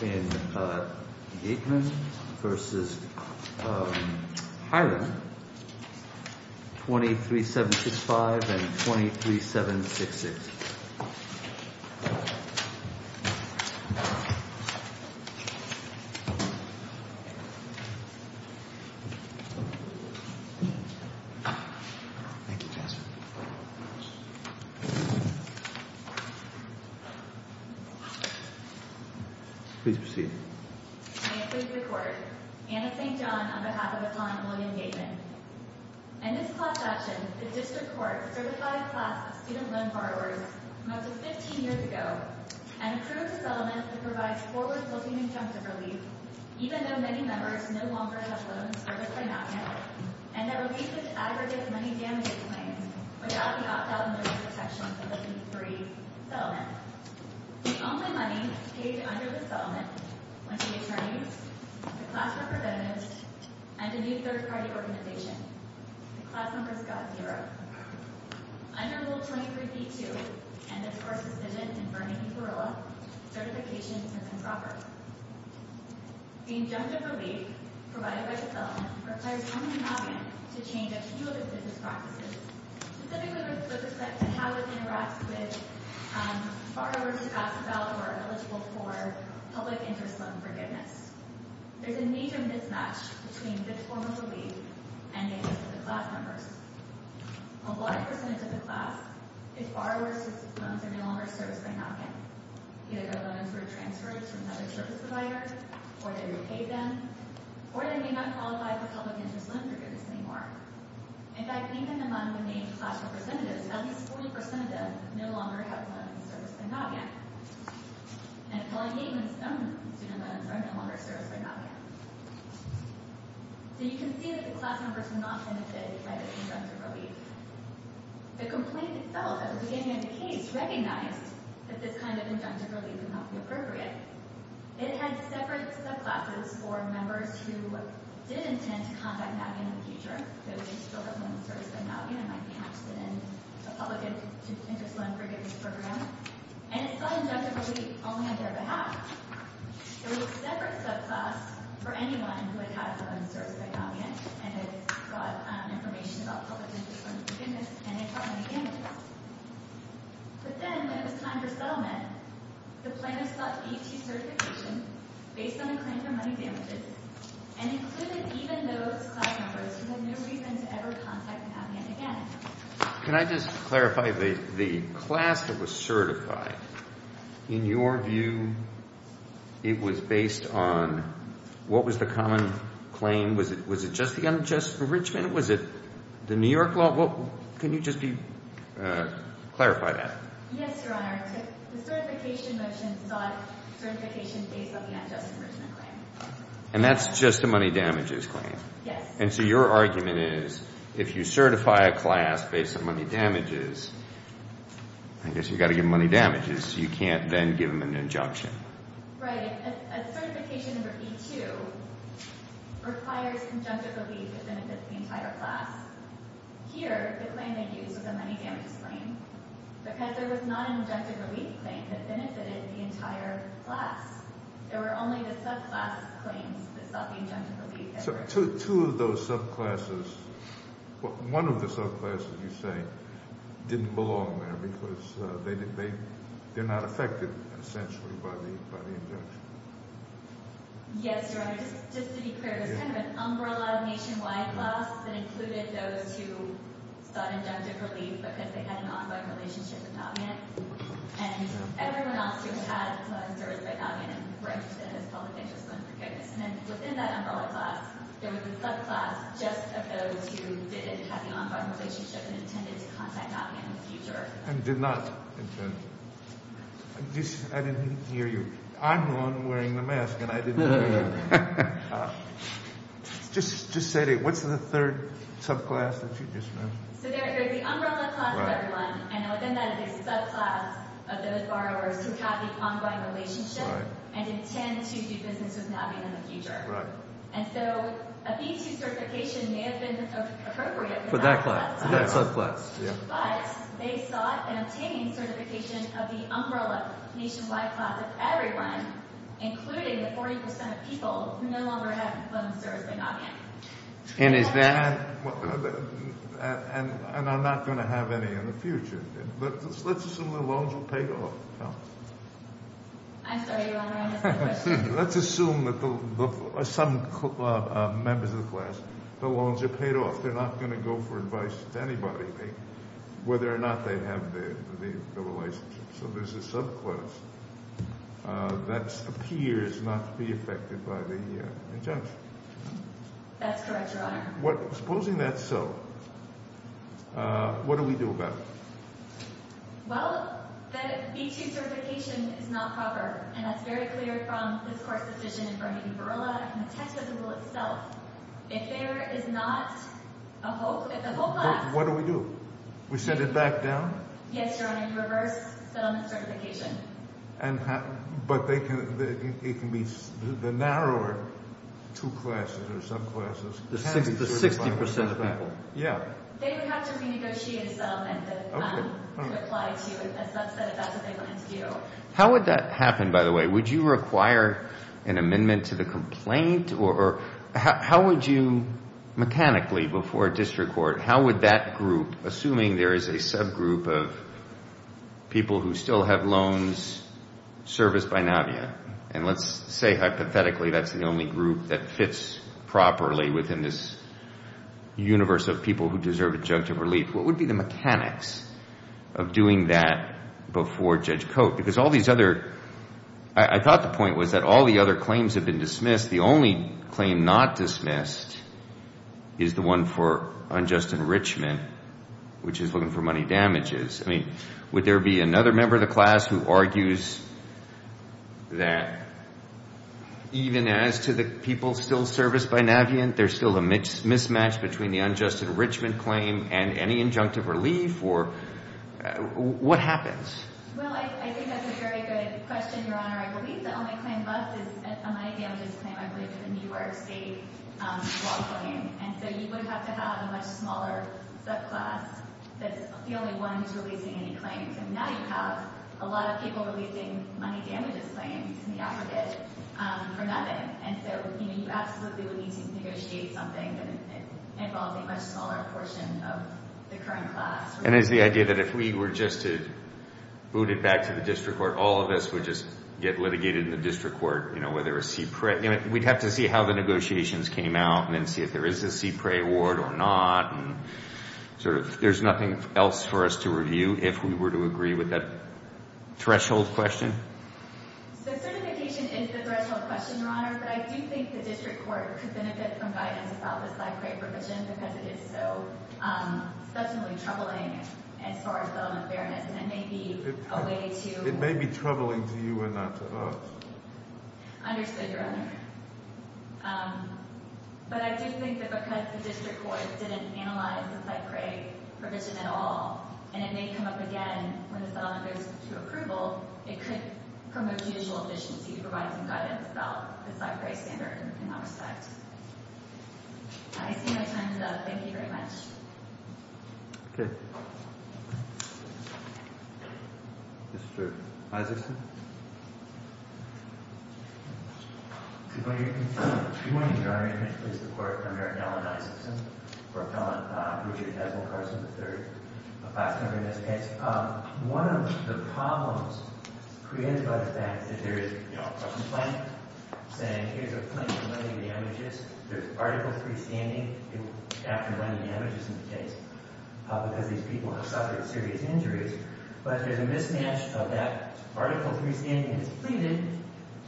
Gateman v. Highland, 23765 and 23766 May it please the Court, Anna St. John, on behalf of Highland, William Gateman. In this class action, the District Court certified a class of student loan borrowers from up to 15 years ago, and approved a settlement that provides forward-looking injunctive relief, even though many members no longer have loans serviced by Navient, and that relieves the aggregate money damage claims without the opt-out and risk protection of the P3 settlement. The only money paid under this settlement went to the attorneys, the class representatives, and the new third-party organization. The class numbers got zero. Under Rule 23b-2, and this Court's decision in Vernon v. Corolla, certification is improper. The injunctive relief provided by the settlement requires Navient to change a few of its business practices, specifically with respect to how it interacts with borrowers who pass a ballot or are eligible for public interest loan forgiveness. There is a major mismatch between this form of relief and the interest of the class members. A large percentage of the class is borrowers whose loans are no longer serviced by Navient. Either their loans were transferred to another service provider, or they repaid them, or they may not qualify for public interest loan forgiveness anymore. In fact, even among the named class representatives, at least 40% of them no longer have loans serviced by Navient, and appellee payments and student loans are no longer serviced by Navient. So you can see that the class members do not benefit from the injunctive relief. The complaint itself, at the beginning of the case, recognized that this kind of injunctive relief would not be appropriate. It had separate subclasses for members who did intend to contact Navient in the future, those who still have loans serviced by Navient and might be interested in a public interest loan forgiveness program. And it's not injunctive relief only on their behalf. There was a separate subclass for anyone who had had loans serviced by Navient and had brought information about public interest loan forgiveness, and they brought money damages. But then, when it was time for settlement, the plaintiffs sought AT certification based on a claim for money damages and included even those class members who had no reason to ever contact Navient again. Can I just clarify, the class that was certified, in your view, it was based on, what was the common claim? Was it just the unjust enrichment? Was it the New York law? Can you just clarify that? Yes, Your Honor. The certification motion sought certification based on the unjust enrichment claim. And that's just the money damages claim? Yes. And so your argument is, if you certify a class based on money damages, I guess you've got to give them money damages, so you can't then give them an injunction. Right. A certification under E-2 requires injunctive relief that benefits the entire class. Here, the claim they used was a money damages claim. Because there was not an injunctive relief claim that benefited the entire class, there were only the subclass claims that sought the injunctive relief. So two of those subclasses, well, one of the subclasses, you say, didn't belong there because they're not affected, essentially, by the injunction. Yes, Your Honor. Just to be clear, it was kind of an umbrella nationwide class that included those who sought injunctive relief because they had an ongoing relationship with Navient. And everyone else who had a class certified by Navient and were interested in this public interest claim for case. And then within that umbrella class, there was a subclass just of those who didn't have the ongoing relationship and intended to contact Navient in the future. And did not intend. I didn't hear you. I'm the one wearing the mask, and I didn't hear you. Just say it. What's the third subclass that you just mentioned? So there's the umbrella class of everyone. And within that is a subclass of those borrowers who have the ongoing relationship and intend to do business with Navient in the future. And so a B2 certification may have been appropriate for that subclass. But they sought an obtaining certification of the umbrella nationwide class of everyone, including the 40% of people who no longer have a loan service with Navient. And I'm not going to have any in the future. Let's assume the loans will pay off. I'm sorry, Your Honor. I missed the question. Let's assume that some members of the class, the loans are paid off. They're not going to go for advice to anybody whether or not they have the relationship. So there's a subclass that appears not to be affected by the injunction. That's correct, Your Honor. Supposing that's so, what do we do about it? Well, the B2 certification is not proper. And that's very clear from this Court's decision in Vernon Burla and the text of the rule itself. If there is not a whole class— What do we do? We send it back down? Yes, Your Honor, in reverse settlement certification. But it can be the narrower two classes or subclasses. The 60% of people. Yeah. They would have to renegotiate a settlement to apply to a subset if that's what they plan to do. How would that happen, by the way? Would you require an amendment to the complaint? Or how would you mechanically before a district court, how would that group, assuming there is a subgroup of people who still have loans serviced by Navient, and let's say hypothetically that's the only group that fits properly within this universe of people who deserve adjunctive relief, what would be the mechanics of doing that before Judge Cote? Because all these other—I thought the point was that all the other claims have been dismissed. The only claim not dismissed is the one for unjust enrichment, which is looking for money damages. I mean, would there be another member of the class who argues that even as to the people still serviced by Navient, there's still a mismatch between the unjust enrichment claim and any adjunctive relief? Or what happens? Well, I think that's a very good question, Your Honor. I believe the only claim left is a money damages claim. I believe it's a New York State law claim. And so you would have to have a much smaller subclass that's the only one who's releasing any claims. And now you have a lot of people releasing money damages claims in the affidavit for nothing. And so you absolutely would need to negotiate something that involves a much smaller portion of the current class. And is the idea that if we were just to boot it back to the district court, all of us would just get litigated in the district court, whether a CPRA— we'd have to see how the negotiations came out and then see if there is a CPRA award or not. There's nothing else for us to review if we were to agree with that threshold question? So certification is the threshold question, Your Honor. But I do think the district court could benefit from guidance about this CPRA provision because it is so substantially troubling as far as the unfairness. And it may be a way to— It may be troubling to you and not to us. Understood, Your Honor. But I do think that because the district court didn't analyze the CPRA provision at all, and it may come up again when the settlement goes to approval, it could promote judicial efficiency to provide some guidance about the CPRA standard in that respect. I see my time is up. Thank you very much. Okay. Mr. Isaacson? If you wouldn't mind, Your Honor, may I please report for Merrick Allen Isaacson, for Appellant Richard Desmond Carson III, a class number in this case. One of the problems created by the fact that there is, you know, a complaint saying, here's a complaint for money damages. There's Article III standing after money damages in the case because these people have suffered serious injuries.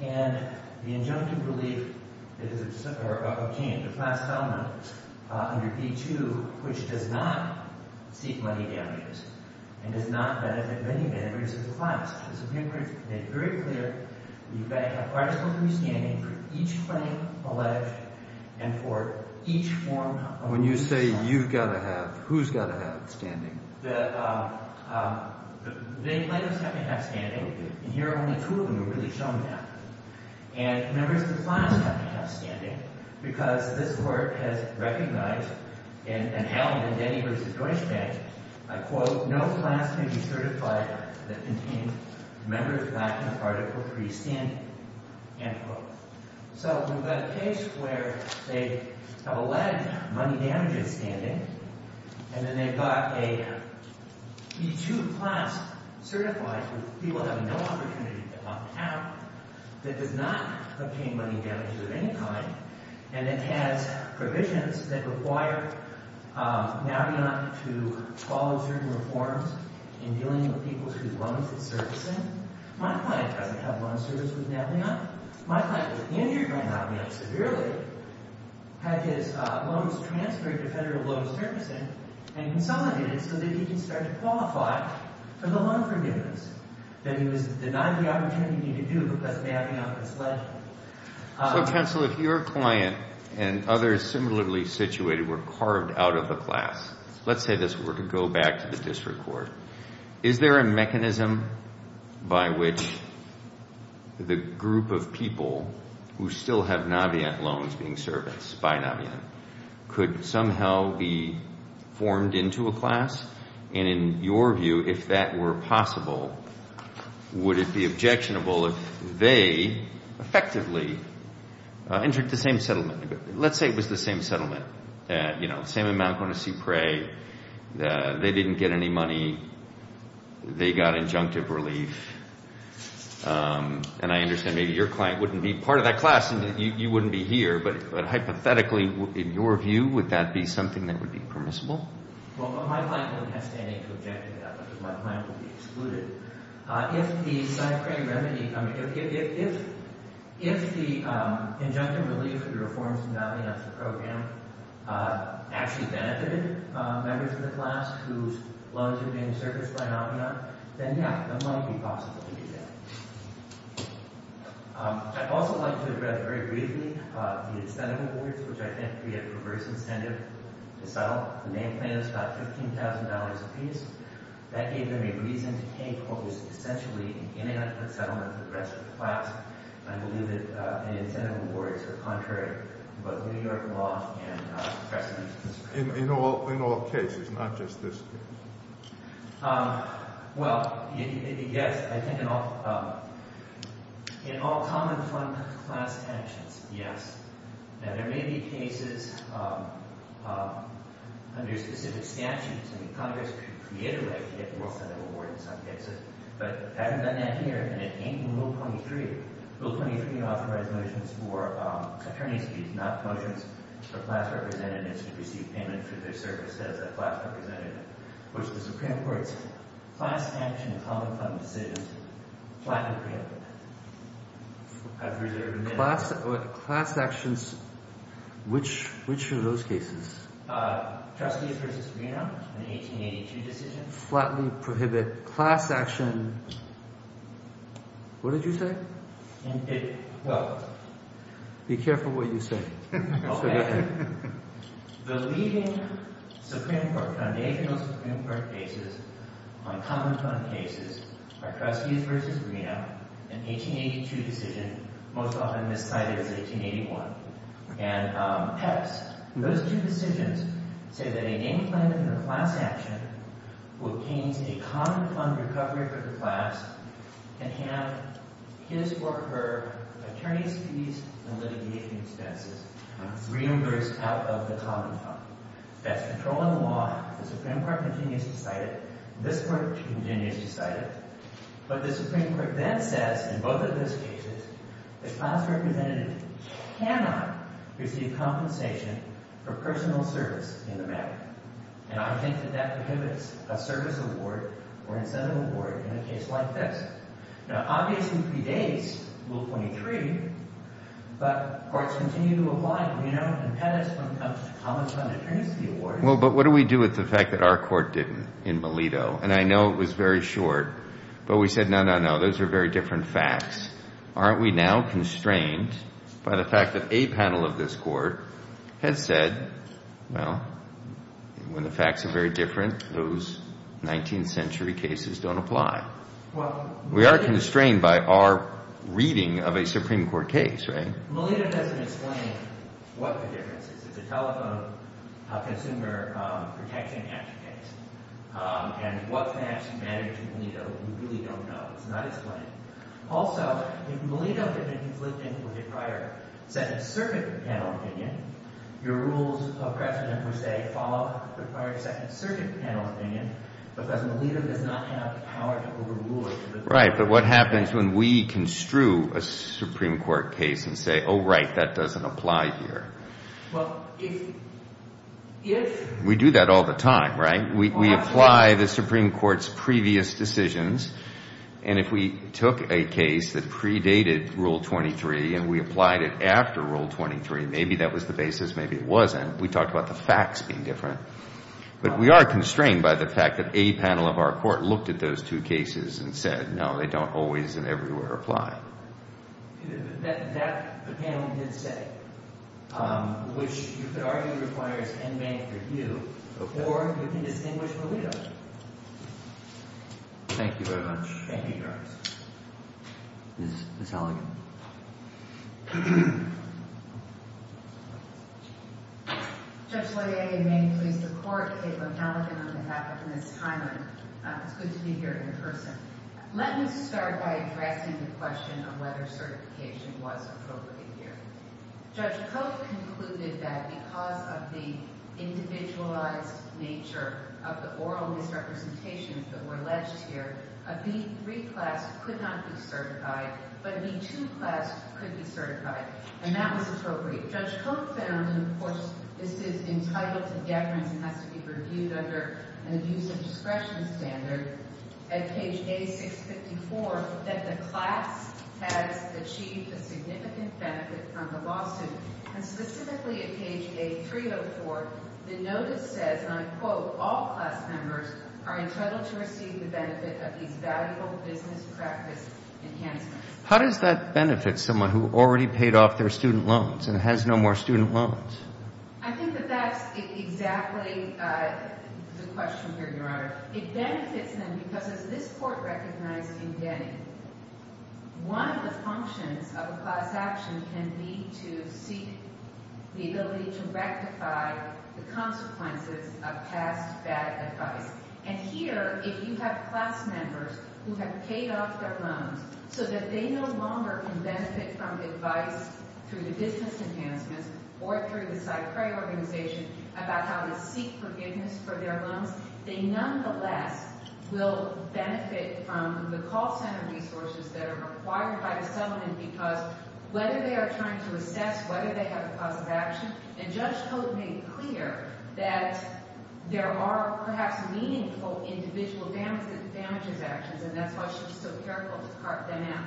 And the injunctive relief obtained, the class settlement under P2, which does not seek money damages and does not benefit many members of the class. The CPRA has made very clear that you've got to have Article III standing for each claim alleged and for each form of— When you say you've got to have, who's got to have standing? The plaintiffs have to have standing, and here only two of them are really shown now. And members of the class have to have standing because this Court has recognized and held in Denny v. Deutsche Bank, I quote, no class can be certified that contains members lacking Article III standing, end quote. So we've got a case where they have alleged money damages standing and then they've got a P2 class certified, where people have no opportunity to get locked out, that does not obtain money damages of any kind, and it has provisions that require Navient to follow certain reforms in dealing with people whose loans it's servicing. My client doesn't have loan service with Navient. My client was in your grand house severely, had his loans transferred to Federal Loans Servicing and consolidated so that he could start to qualify for the loan forgiveness that he was denied the opportunity to do because Navient was alleged. So, counsel, if your client and others similarly situated were carved out of the class, let's say this were to go back to the district court, is there a mechanism by which the group of people who still have Navient loans being serviced by Navient could somehow be formed into a class? And in your view, if that were possible, would it be objectionable if they effectively entered the same settlement? Let's say it was the same settlement, you know, the same amount going to Supre, they didn't get any money, they got injunctive relief, and I understand maybe your client wouldn't be part of that class and you wouldn't be here, but hypothetically, in your view, would that be something that would be permissible? Well, my client wouldn't have standing to object to that because my client would be excluded. If the injunctive relief for the reforms in Navient's program actually benefited members of the class whose loans had been serviced by Navient, then, yeah, that might be possible to do that. I'd also like to address very briefly the incentive awards, which I think we had a perverse incentive to settle. The main plan is about $15,000 apiece. That gave them a reason to take what was essentially an inadequate settlement for the rest of the class. I believe that incentive awards are contrary to both New York law and precedent. In all cases, not just this case. Well, yes, I think in all common fund class tensions, yes. Now, there may be cases under specific statutes. I mean, Congress could create a way to get more incentive awards in some cases, but I haven't done that here, and it ain't in Rule 23. Rule 23 authorizes motions for attorney's fees, not potions, for class representatives to receive payment for their service as a class representative, which the Supreme Court's class tension common fund decision flatly preempted. Class actions, which are those cases? Trustees versus Reno in the 1882 decision. Flatly prohibit class action. What did you say? Well. Be careful what you say. Okay. The leading Supreme Court, foundational Supreme Court cases on common fund cases are Trustees versus Reno, an 1882 decision, most often miscited as 1881, and Peps. Those two decisions say that a named plaintiff in a class action who obtains a common fund recovery for the class can have his or her attorney's fees and litigation expenses reimbursed out of the common fund. That's controlling the law. The Supreme Court continues to cite it. This Court continues to cite it. But the Supreme Court then says in both of those cases that class representatives cannot receive compensation for personal service in the matter. And I think that that prohibits a service award or incentive award in a case like this. Now, obviously, it predates Rule 23, but courts continue to apply. You know, in Peps, when it comes to common fund, it brings the award. Well, but what do we do with the fact that our court didn't in Melito? And I know it was very short, but we said, no, no, no. Those are very different facts. Aren't we now constrained by the fact that a panel of this Court has said, well, when the facts are very different, those 19th century cases don't apply? We are constrained by our reading of a Supreme Court case, right? Melito doesn't explain what the difference is. It's a telephone consumer protection action case. And what can actually matter to Melito, we really don't know. It's not explained. Also, if Melito had been conflicting with a prior Second Circuit panel opinion, your rules of precedent would say, follow the prior Second Circuit panel opinion, because Melito does not have the power to overrule it. Right, but what happens when we construe a Supreme Court case and say, oh, right, that doesn't apply here? Well, if – We do that all the time, right? We apply the Supreme Court's previous decisions. And if we took a case that predated Rule 23 and we applied it after Rule 23, maybe that was the basis, maybe it wasn't. We talked about the facts being different. But we are constrained by the fact that a panel of our Court looked at those two cases and said, no, they don't always and everywhere apply. That panel did say, which you could argue requires en banc review, or you can distinguish Melito. Thank you very much. Thank you, Your Honor. Ms. Halligan. Judge Loyer, you may please support Caleb Halligan on behalf of Ms. Hyman. It's good to be here in person. Let me start by addressing the question of whether certification was appropriate here. Judge Koch concluded that because of the individualized nature of the oral misrepresentations that were alleged here, a B-3 class could not be certified, but a B-2 class could be certified, and that was appropriate. Judge Koch found, and of course this is entitled to deference and has to be reviewed under an abuse of discretion standard, at page A654, that the class has achieved a significant benefit from the lawsuit. And specifically at page A304, the notice says, and I quote, all class members are entitled to receive the benefit of these valuable business practice enhancements. How does that benefit someone who already paid off their student loans and has no more student loans? I think that that's exactly the question here, Your Honor. It benefits them because, as this Court recognized in Denny, one of the functions of a class action can be to seek the ability to rectify the consequences of past bad advice. And here, if you have class members who have paid off their loans so that they no longer can benefit from advice through the business enhancements or through the CyPray organization about how to seek forgiveness for their loans, they nonetheless will benefit from the call center resources that are required by the settlement because whether they are trying to assess whether they have a cause of action, and Judge Cote made it clear that there are perhaps meaningful individual damages actions, and that's why she's so careful to cart them out.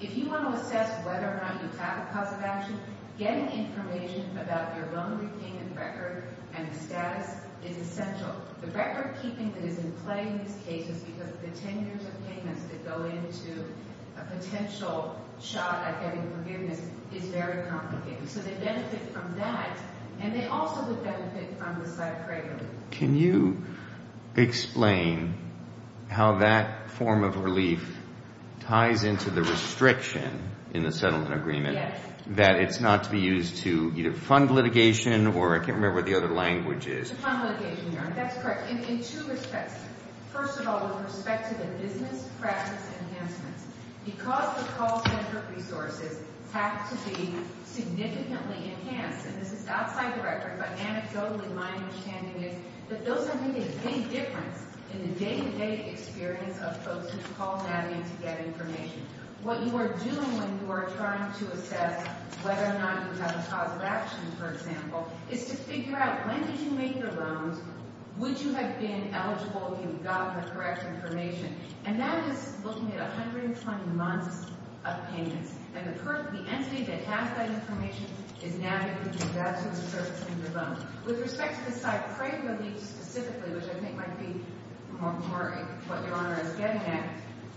If you want to assess whether or not you have a cause of action, getting information about your loan repayment record and status is essential. The record keeping that is in play in this case is because the 10 years of payments that go into a potential shot at getting forgiveness is very complicated. So they benefit from that, and they also would benefit from the CyPray relief. Can you explain how that form of relief ties into the restriction in the settlement agreement that it's not to be used to either fund litigation or I can't remember what the other language is. To fund litigation, Your Honor. That's correct. In two respects. First of all, with respect to the business practice enhancements, because the call center resources have to be significantly enhanced, and this is outside the record, but anecdotally my understanding is that those are going to make a big difference in the day-to-day experience of folks who call Natalie to get information. What you are doing when you are trying to assess whether or not you have a cause of action, for example, is to figure out when did you make your loans? Would you have been eligible if you got the correct information? And that is looking at 120 months of payments, and the entity that has that information is navigating that to the surface in your loan. With respect to the CyPray relief specifically, which I think might be more what Your Honor is getting at,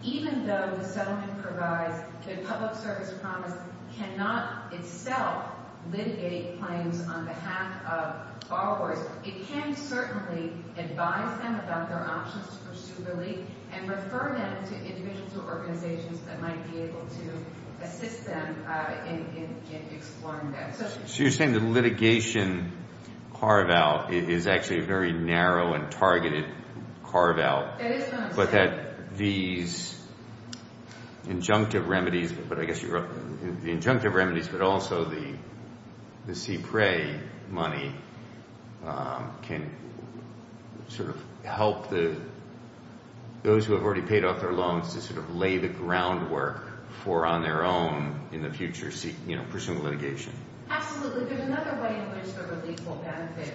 even though the settlement provides that public service promise cannot itself litigate claims on behalf of borrowers, it can certainly advise them about their options to pursue relief and refer them to individuals or organizations that might be able to assist them in exploring that. So you are saying the litigation carve-out is actually a very narrow and targeted carve-out, but that these injunctive remedies, but also the CyPray money can sort of help those who have already paid off their loans to sort of lay the groundwork for on their own in the future pursuing litigation? Absolutely. There is another way in which the relief will benefit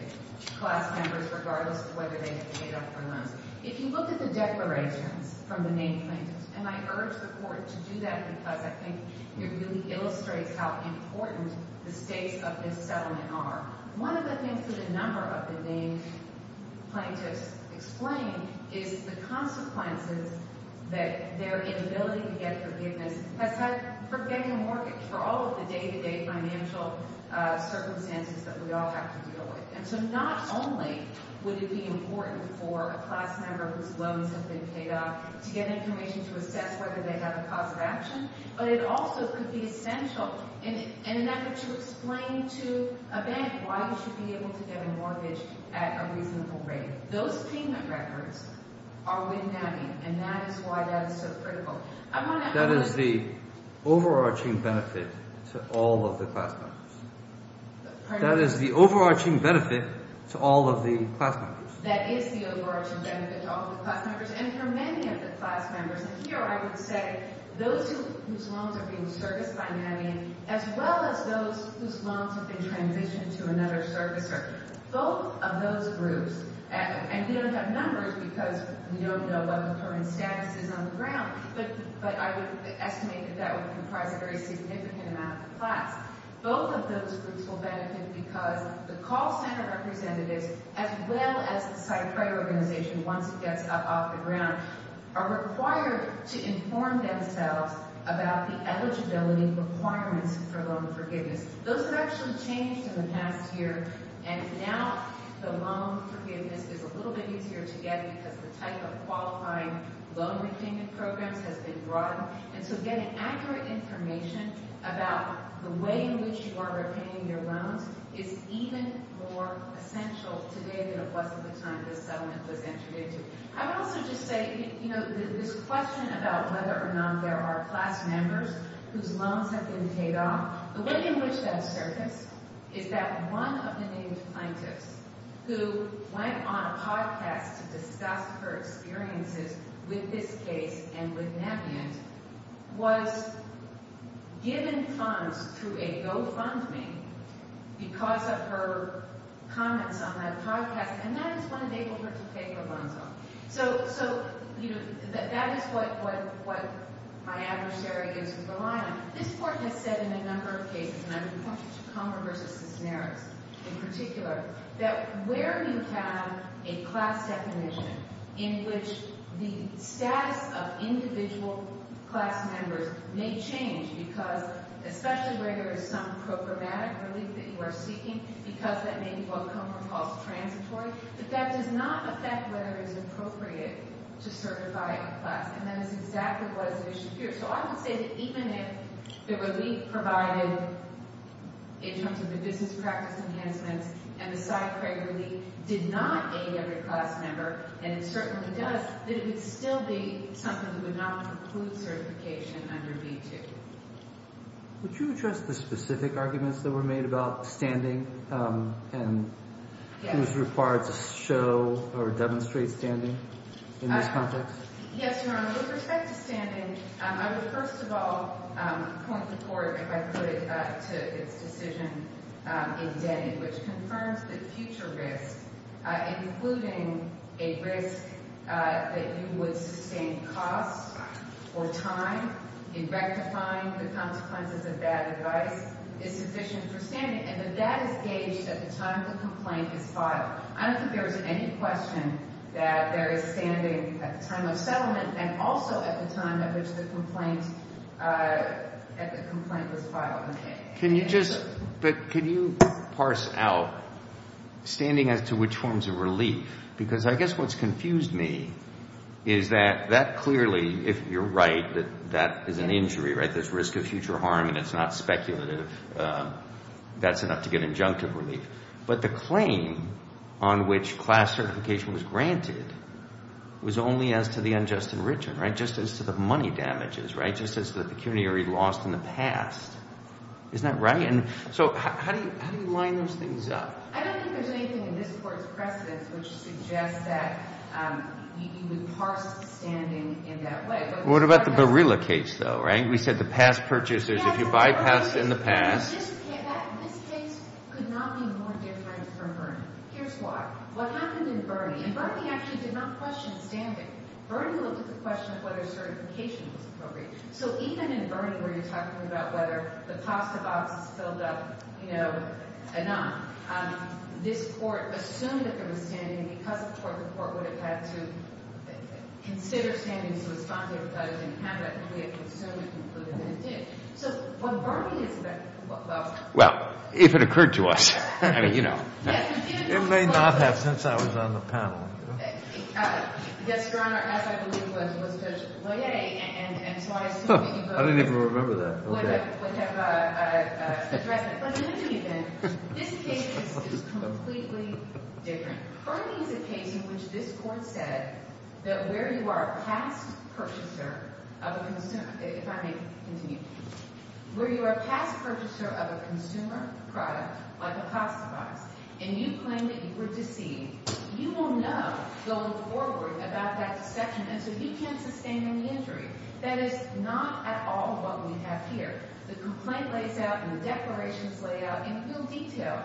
class members regardless of whether they have paid off their loans. If you look at the declarations from the named plaintiffs, and I urge the Court to do that because I think it really illustrates how important the stakes of this settlement are. One of the things that a number of the named plaintiffs explain is the consequences that their inability to get forgiveness has had for getting a mortgage for all of the day-to-day financial circumstances that we all have to deal with. And so not only would it be important for a class member whose loans have been paid off to get information to assess whether they have a cause of action, but it also could be essential in an effort to explain to a bank why you should be able to get a mortgage at a reasonable rate. Those payment records are wind-nabbing, and that is why that is so critical. That is the overarching benefit to all of the class members. That is the overarching benefit to all of the class members. That is the overarching benefit to all of the class members and for many of the class members. And here I would say those whose loans are being serviced by NAMI as well as those whose loans have been transitioned to another servicer. Both of those groups, and we don't have numbers because we don't know what the current status is on the ground, but I would estimate that that would comprise a very significant amount of the class. Both of those groups will benefit because the call center representatives as well as the site credit organization, once it gets up off the ground, are required to inform themselves about the eligibility requirements for loan forgiveness. Those have actually changed in the past year, and now the loan forgiveness is a little bit easier to get because the type of qualifying loan repayment programs has been broadened. And so getting accurate information about the way in which you are repaying your loans is even more essential today than it was at the time this settlement was entered into. I would also just say, you know, this question about whether or not there are class members whose loans have been paid off, the way in which that has surfaced is that one of the named plaintiffs who went on a podcast to discuss her experiences with this case and with NAMIENT was given funds through a GoFundMe because of her comments on that podcast. And that is when they were able to pay her loans off. So, you know, that is what my adversary is relying on. This Court has said in a number of cases, and I'm pointing to Comer v. Cisneros in particular, that where you have a class definition in which the status of individual class members may change because especially where there is some programmatic relief that you are seeking because that may be what Comer calls transitory, that that does not affect whether it is appropriate to certify a class. And that is exactly what is at issue here. So I would say that even if the relief provided in terms of the business practice enhancements and the side credit relief did not aid every class member, and it certainly does, that it would still be something that would not include certification under V-2. Would you address the specific arguments that were made about standing and who is required to show or demonstrate standing in this context? Yes, Your Honor. With respect to standing, I would first of all point the Court, if I could, to its decision in Denny, which confirms that future risk, including a risk that you would sustain costs or time in rectifying the consequences of bad advice, is sufficient for standing. And that that is gauged at the time the complaint is filed. I don't think there is any question that there is standing at the time of settlement and also at the time at which the complaint was filed. But can you parse out standing as to which forms of relief? Because I guess what's confused me is that that clearly, if you're right, that that is an injury, right? There's risk of future harm and it's not speculative. That's enough to get injunctive relief. But the claim on which class certification was granted was only as to the unjust enrichment, right? Just as to the money damages, right? Just as to the pecuniary loss in the past. Isn't that right? And so how do you line those things up? I don't think there's anything in this Court's precedence which suggests that you would parse standing in that way. What about the Barilla case, though, right? We said the past purchasers, if you bypassed in the past. This case could not be more different from Bernie. Here's why. What happened in Bernie, and Bernie actually did not question standing, Bernie looked at the question of whether certification was appropriate. So even in Bernie, where you're talking about whether the cost of ox is filled up, you know, enough, this Court assumed that there was standing. And because of the Court, the Court would have had to consider standing to respond to everybody who didn't have it. And we assumed and concluded that it did. Well, if it occurred to us, I mean, you know. It may not have since I was on the panel. I didn't even remember that. But let me continue then. This case is completely different. Bernie is a case in which this Court said that where you are a past purchaser of a consumer, if I may continue. Where you are a past purchaser of a consumer product, like a plastic box, and you claim that you were deceived. You will know going forward about that deception, and so you can't sustain any injury. That is not at all what we have here. The complaint lays out and the declarations lay out in real detail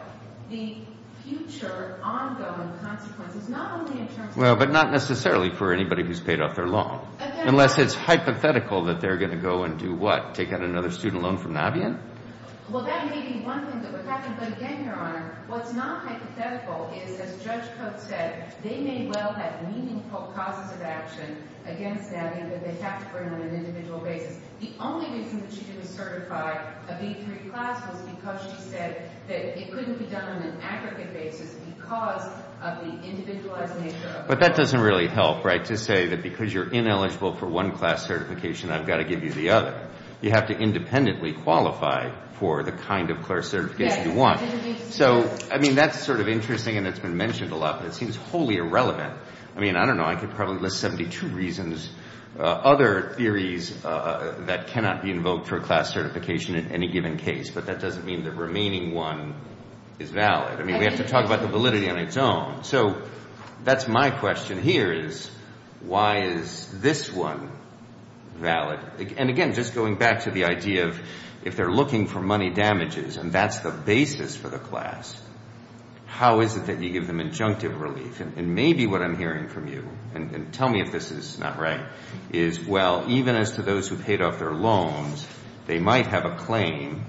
the future ongoing consequences, not only in terms of... Well, but not necessarily for anybody who's paid off their loan. Unless it's hypothetical that they're going to go and do what? Take out another student loan from Navien? Well, that may be one thing that would happen, but again, Your Honor, what's not hypothetical is, as Judge Coates said, they may well have meaningful causes of action against Navien that they have to bring on an individual basis. The only reason that she didn't certify a B-3 class was because she said that it couldn't be done on an aggregate basis because of the individualized nature of... But that doesn't really help, right, to say that because you're ineligible for one class certification, I've got to give you the other. You have to independently qualify for the kind of certification you want. So, I mean, that's sort of interesting and it's been mentioned a lot, but it seems wholly irrelevant. I mean, I don't know, I could probably list 72 reasons, other theories that cannot be invoked for a class certification in any given case, but that doesn't mean the remaining one is valid. I mean, we have to talk about the validity on its own. So that's my question here is, why is this one valid? And again, just going back to the idea of if they're looking for money damages and that's the basis for the class, how is it that you give them injunctive relief? And maybe what I'm hearing from you, and tell me if this is not right, is, well, even as to those who paid off their loans, they might have a claim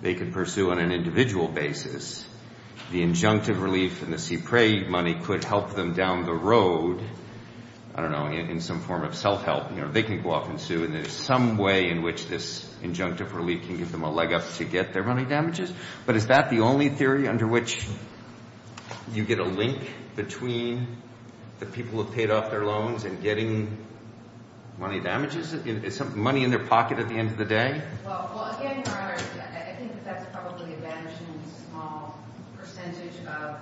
they could pursue on an individual basis. The injunctive relief and the CPRA money could help them down the road, I don't know, in some form of self-help. They can go off and sue and there's some way in which this injunctive relief can give them a leg up to get their money damages. But is that the only theory under which you get a link between the people who paid off their loans and getting money damages? Is money in their pocket at the end of the day? Well, again, Your Honor, I think that's probably a vanishingly small percentage of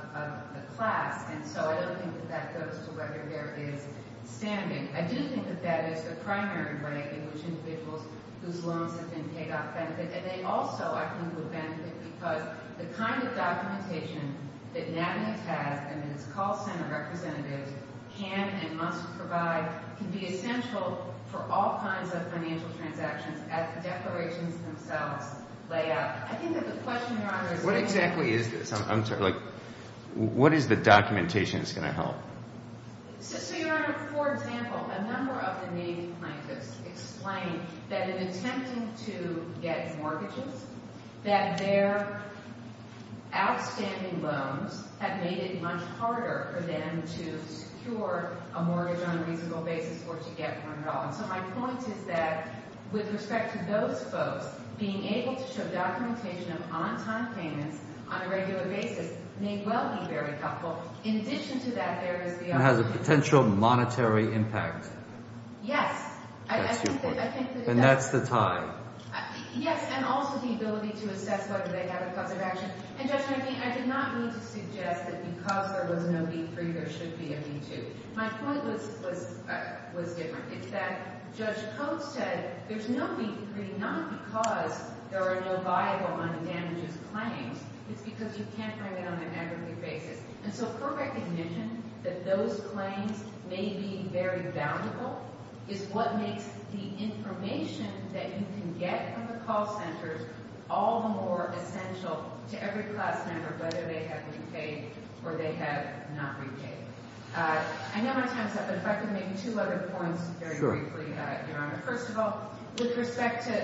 the class, and so I don't think that that goes to whether there is standing. I do think that that is the primary way in which individuals whose loans have been paid off benefit. And they also, I think, would benefit because the kind of documentation that NABNY has and that its call center representatives can and must provide can be essential for all kinds of financial transactions as the declarations themselves lay out. I think that the question, Your Honor, is the same. What exactly is this? I'm sorry. What is the documentation that's going to help? So, Your Honor, for example, a number of the Navy plaintiffs explain that in attempting to get mortgages, that their outstanding loans have made it much harder for them to secure a mortgage on a reasonable basis or to get one at all. And so my point is that with respect to those folks, being able to show documentation of on-time payments on a regular basis may well be very helpful. In addition to that, there is the other one. It has a potential monetary impact. Yes. That's your point. And that's the tie. Yes. And also the ability to assess whether they have a cause of action. And, Judge Murphy, I did not mean to suggest that because there was no beat free, there should be a beat too. My point was different. It's that Judge Coates said there's no beat free not because there are no viable money damages claims. It's because you can't bring it on an aggregate basis. And so her recognition that those claims may be very valuable is what makes the information that you can get from the call centers all the more essential to every class member, whether they have repaid or they have not repaid. I know my time is up, but if I could make two other points very briefly, Your Honor. Sure. First of all, with respect to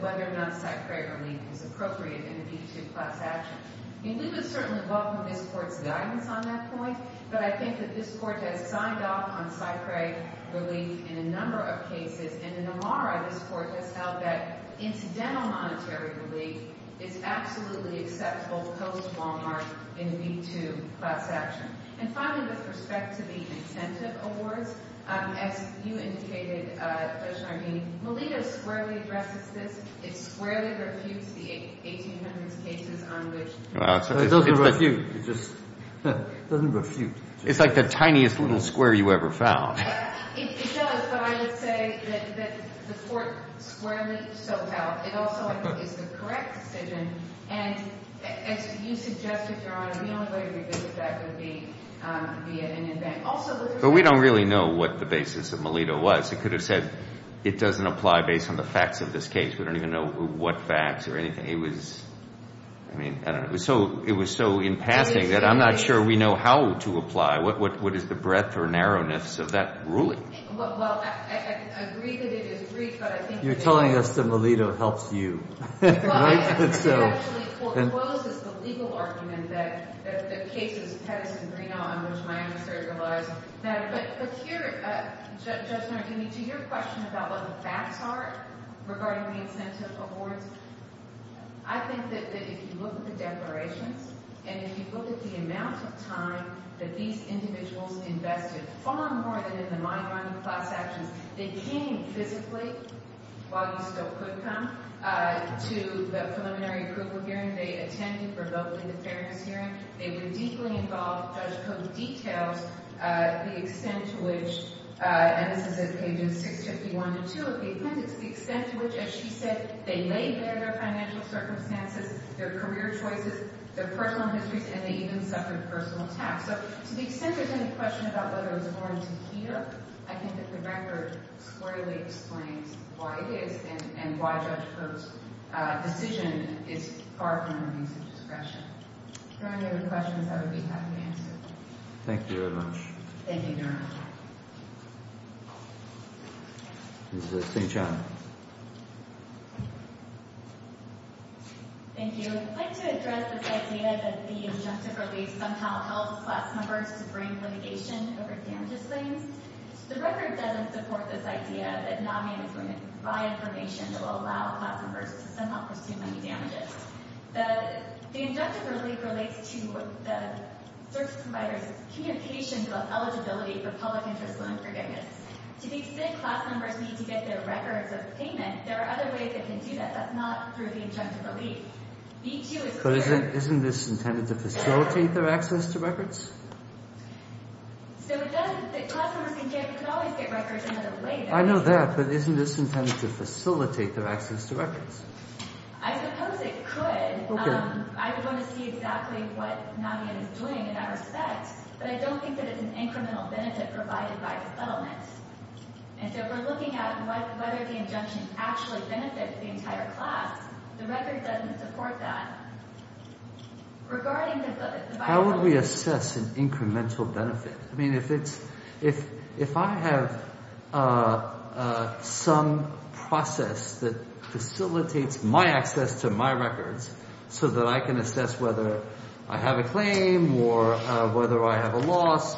whether or not site credit relief is appropriate in a beat too class action. I mean, we would certainly welcome this court's guidance on that point. But I think that this court has signed off on site credit relief in a number of cases. And in Amara, this court has held that incidental monetary relief is absolutely acceptable post-Walmart in a beat too class action. And finally, with respect to the incentive awards, as you indicated, Judge Nardini, Melita squarely addresses this. It squarely refutes the 1800s cases on which. It doesn't refute. It just doesn't refute. It's like the tiniest little square you ever found. It does, but I would say that the court squarely so held. It also is the correct decision. And as you suggested, Your Honor, the only way to revisit that would be via Indian Bank. But we don't really know what the basis of Melita was. It could have said it doesn't apply based on the facts of this case. We don't even know what facts or anything. It was, I mean, I don't know. It was so in passing that I'm not sure we know how to apply. What is the breadth or narrowness of that ruling? Well, I agree that it is brief, but I think it is. You're telling us that Melita helps you, right? Well, I think it actually closes the legal argument that the cases of Pettis and Greenaw, on which my understudy relies, matter. But here, Judge Nardini, to your question about what the facts are regarding the incentive awards, I think that if you look at the declarations and if you look at the amount of time that these individuals invested, far more than in the mind-running class actions, they came physically, while you still could come, to the preliminary approval hearing. They attended remotely the fairness hearing. They were deeply involved. Judge Coates details the extent to which, and this is at pages 651 and 652 of the appendix, the extent to which, as she said, they laid bare their financial circumstances, their career choices, their personal histories, and they even suffered personal attacks. So to the extent there's any question about whether it was warranted here, I think that the record squarely explains why it is and why Judge Coates' decision is far from a reason for discretion. If there are any other questions, I would be happy to answer them. Thank you very much. Thank you, Your Honor. Ms. Singh-Chan. Thank you. I'd like to address this idea that the injunctive relief somehow helps class members to bring litigation over damages claims. The record doesn't support this idea that NAMI is going to provide information that will allow class members to somehow pursue money damages. The injunctive relief relates to the search providers' communication about eligibility for public interest loan forgiveness. To the extent class members need to get their records of payment, there are other ways they can do that. That's not through the injunctive relief. B-2 is clear. But isn't this intended to facilitate their access to records? So it doesn't. The class members can always get records in another way. I suppose it could. I want to see exactly what NAMI is doing in that respect. But I don't think that it's an incremental benefit provided by the settlement. And so if we're looking at whether the injunction actually benefits the entire class, the record doesn't support that. How would we assess an incremental benefit? I mean, if I have some process that facilitates my access to my records so that I can assess whether I have a claim or whether I have a loss,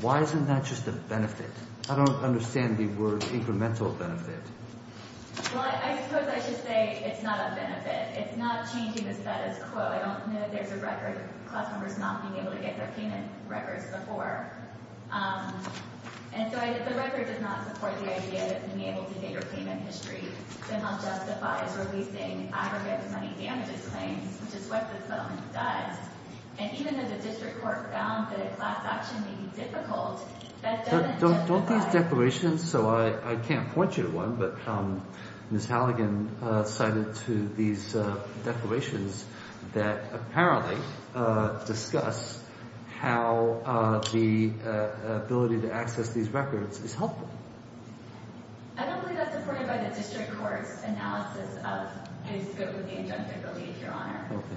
why isn't that just a benefit? I don't understand the word incremental benefit. Well, I suppose I should say it's not a benefit. It's not changing the status quo. I don't know if there's a record of class members not being able to get their payment records before. And so the record does not support the idea that being able to get your payment history somehow justifies releasing aggregate money damages claims, which is what the settlement does. And even if the district court found that a class action may be difficult, that doesn't justify— Don't these declarations—so I can't point you to one, but Ms. Halligan cited to these declarations that apparently discuss how the ability to access these records is helpful. I don't believe that's supported by the district court's analysis of whose good would the injunction believe, Your Honor. Okay.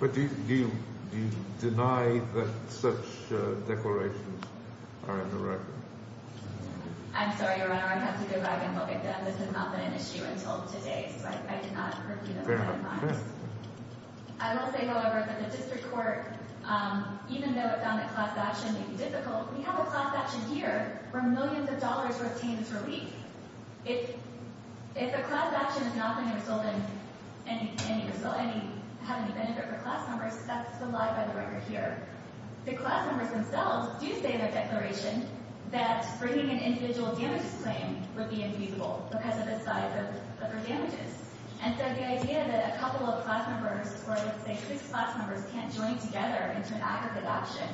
But do you deny that such declarations are in the record? I'm sorry, Your Honor. I have to go back and look at them. This has not been an issue until today, so I cannot— Fair enough. I will say, however, that the district court, even though it found that class action may be difficult, we have a class action here where millions of dollars were obtained as relief. If a class action is not going to result in any—have any benefit for class members, that's the lie by the record here. The class members themselves do say in their declaration that bringing an individual damages claim would be infeasible because of the size of their damages. And so the idea that a couple of class members or, let's say, six class members can't join together into an aggregate action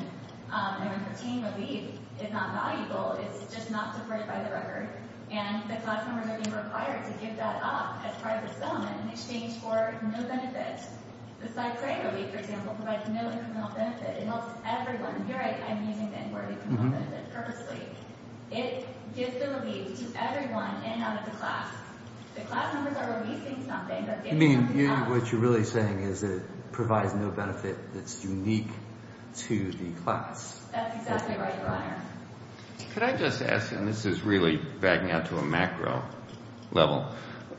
and obtain relief is not valuable. It's just not supported by the record. And the class members are being required to give that up as part of the sum in exchange for no benefit. The side claim relief, for example, provides no incremental benefit. It helps everyone. Here I'm using the word incremental benefit purposely. It gives the relief to everyone in and out of the class. The class members are releasing something, but they're not giving it up. I mean, what you're really saying is it provides no benefit that's unique to the class. That's exactly right, Brian. Could I just ask, and this is really bagging out to a macro level,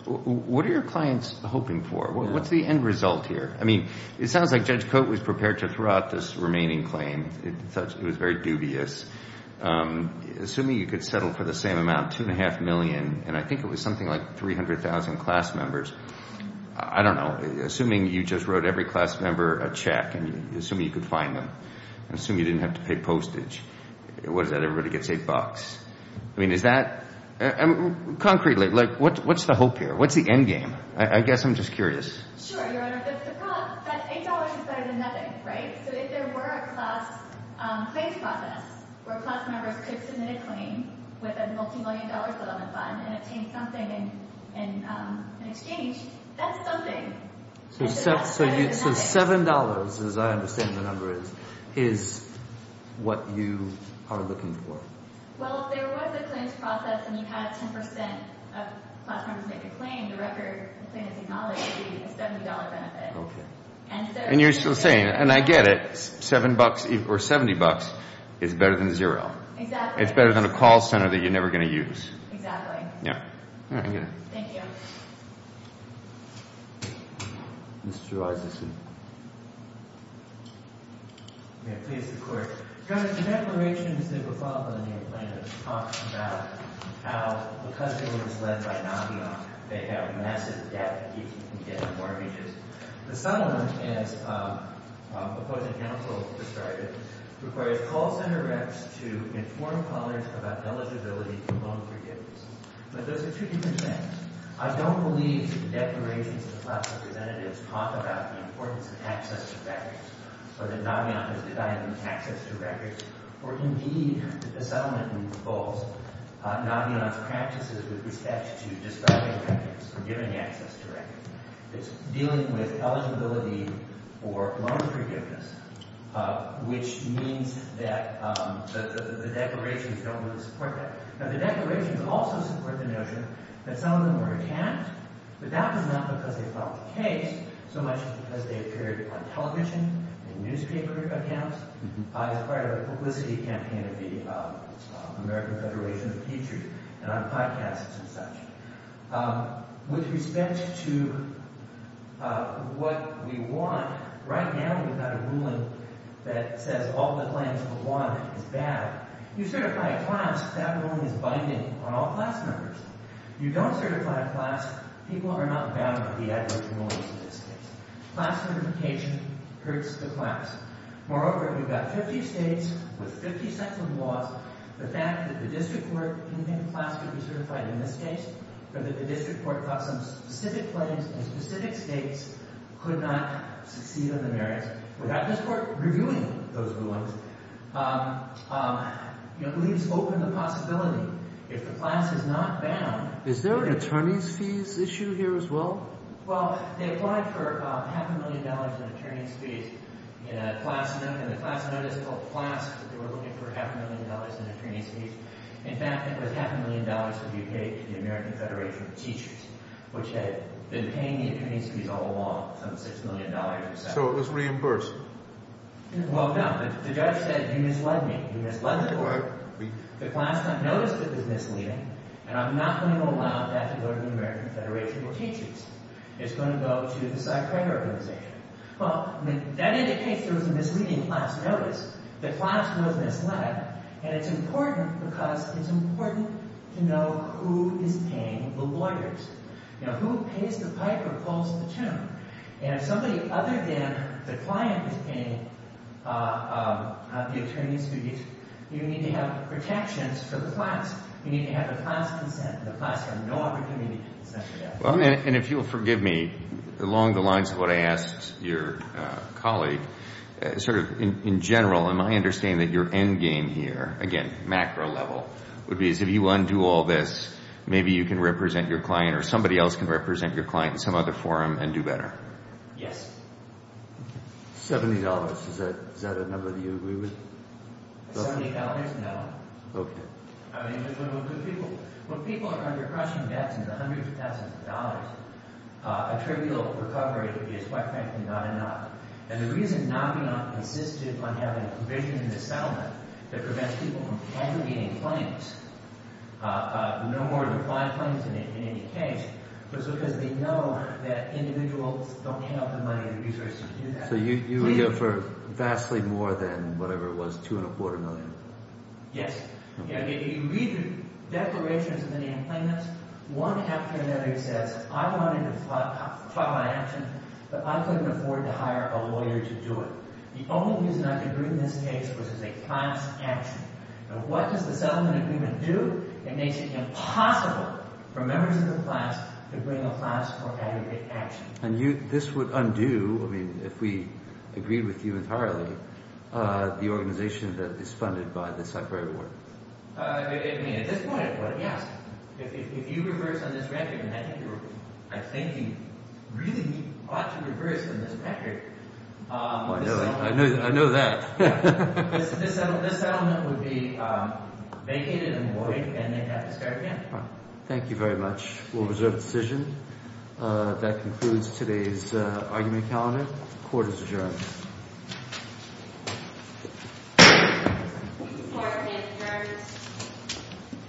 what are your clients hoping for? What's the end result here? I mean, it sounds like Judge Coate was prepared to throw out this remaining claim. It was very dubious. Assuming you could settle for the same amount, $2.5 million, and I think it was something like 300,000 class members. I don't know. Assuming you just wrote every class member a check and assuming you could find them. Assuming you didn't have to pay postage. What is that? Everybody gets $8. I mean, is that? Concretely, what's the hope here? What's the end game? I guess I'm just curious. Sure. You're under $50. That $8 is better than nothing, right? So if there were a class claims process where class members could submit a claim with a multimillion dollar settlement fund and obtain something in exchange, that's something. So $7, as I understand the number is, is what you are looking for. Well, if there was a claims process and you had 10% of class members make a claim, the record, the claim is acknowledged to be a $70 benefit. Okay. And you're saying, and I get it, $7 or $70 is better than zero. Exactly. It's better than a call center that you're never going to use. Exactly. Yeah. Thank you. Mr. Isaacson. Yeah, please. The declarations that were filed by the plaintiffs talk about how because they were misled by Navion, they have massive debt if you can get mortgages. The settlement, as opposing counsel described it, requires call center reps to inform colleagues about eligibility and loan forgiveness. But those are two different things. I don't believe the declarations of the class representatives talk about the importance of access to benefits or that Navion has denied them access to records or, indeed, that the settlement involves Navion's practices with respect to describing records or giving access to records. It's dealing with eligibility for loan forgiveness, which means that the declarations don't really support that. Now, the declarations also support the notion that some of them were attacked, but that was not because they filed a case so much as because they appeared on television and newspaper accounts. I was part of a publicity campaign of the American Federation of Teachers and on podcasts and such. With respect to what we want, right now we've got a ruling that says all the claims of one is bad. You certify a class, that ruling is binding on all class members. You don't certify a class, people are not bound by the adverse rulings in this case. Class certification hurts the class. Moreover, we've got 50 states with 50 sets of laws. The fact that the district court can think a class could be certified in this case or that the district court caught some specific claims in specific states could not succeed on the merits without this court reviewing those rulings, you know, leaves open the possibility, if the class is not bound... Is there an attorney's fees issue here as well? Well, they applied for about half a million dollars in attorney's fees in a class note, and the class note is called class, but they were looking for half a million dollars in attorney's fees. In fact, it was half a million dollars to be paid to the American Federation of Teachers, which had been paying the attorney's fees all along, some $6 million or so. So it was reimbursed? Well, no. The judge said, you misled me. You misled the court. The class not noticed that it was misleading, and I'm not going to allow that to go to the American Federation of Teachers. It's going to go to the Cy Craig Organization. Well, that indicates there was a misleading class notice. The class was misled, and it's important because it's important to know who is paying the lawyers. You know, who pays the pipe or calls the tune? And somebody other than the client is paying the attorney's fees. You need to have protections for the class. You need to have a class consent, and the class has no opportunity to consent to that. And if you'll forgive me, along the lines of what I asked your colleague, sort of in general, am I understanding that your endgame here, again, macro level, would be as if you undo all this, maybe you can represent your client or somebody else can represent your client in some other forum and do better? Yes. Seventy dollars. Is that a number that you agree with? Seventy dollars? No. Okay. I mean, it's one of those good people. When people are under crushing debts and hundreds of thousands of dollars, a trivial recovery is quite frankly not enough. And the reason NAMIA insisted on having a provision in the settlement that prevents people from cancelling any claims, no more than five claims in any case, was because they know that individuals don't hand out the money, and the resources don't do that. So you would go for vastly more than whatever it was, two and a quarter million? Yes. You read the declarations of NAMIA claimants, one after another says, I wanted to file my action, but I couldn't afford to hire a lawyer to do it. The only reason I could bring this case was as a class action. And what does the settlement agreement do? It makes it impossible for members of the class to bring a class for aggregate action. And this would undo, I mean, if we agreed with you entirely, the organization that is funded by the Cypher Award. I mean, at this point, yes. If you reverse on this record, and I think you really ought to reverse on this record. I know that. This settlement would be vacated and void, and they'd have to start again. Thank you very much. We'll reserve the decision. That concludes today's argument calendar. Court is adjourned.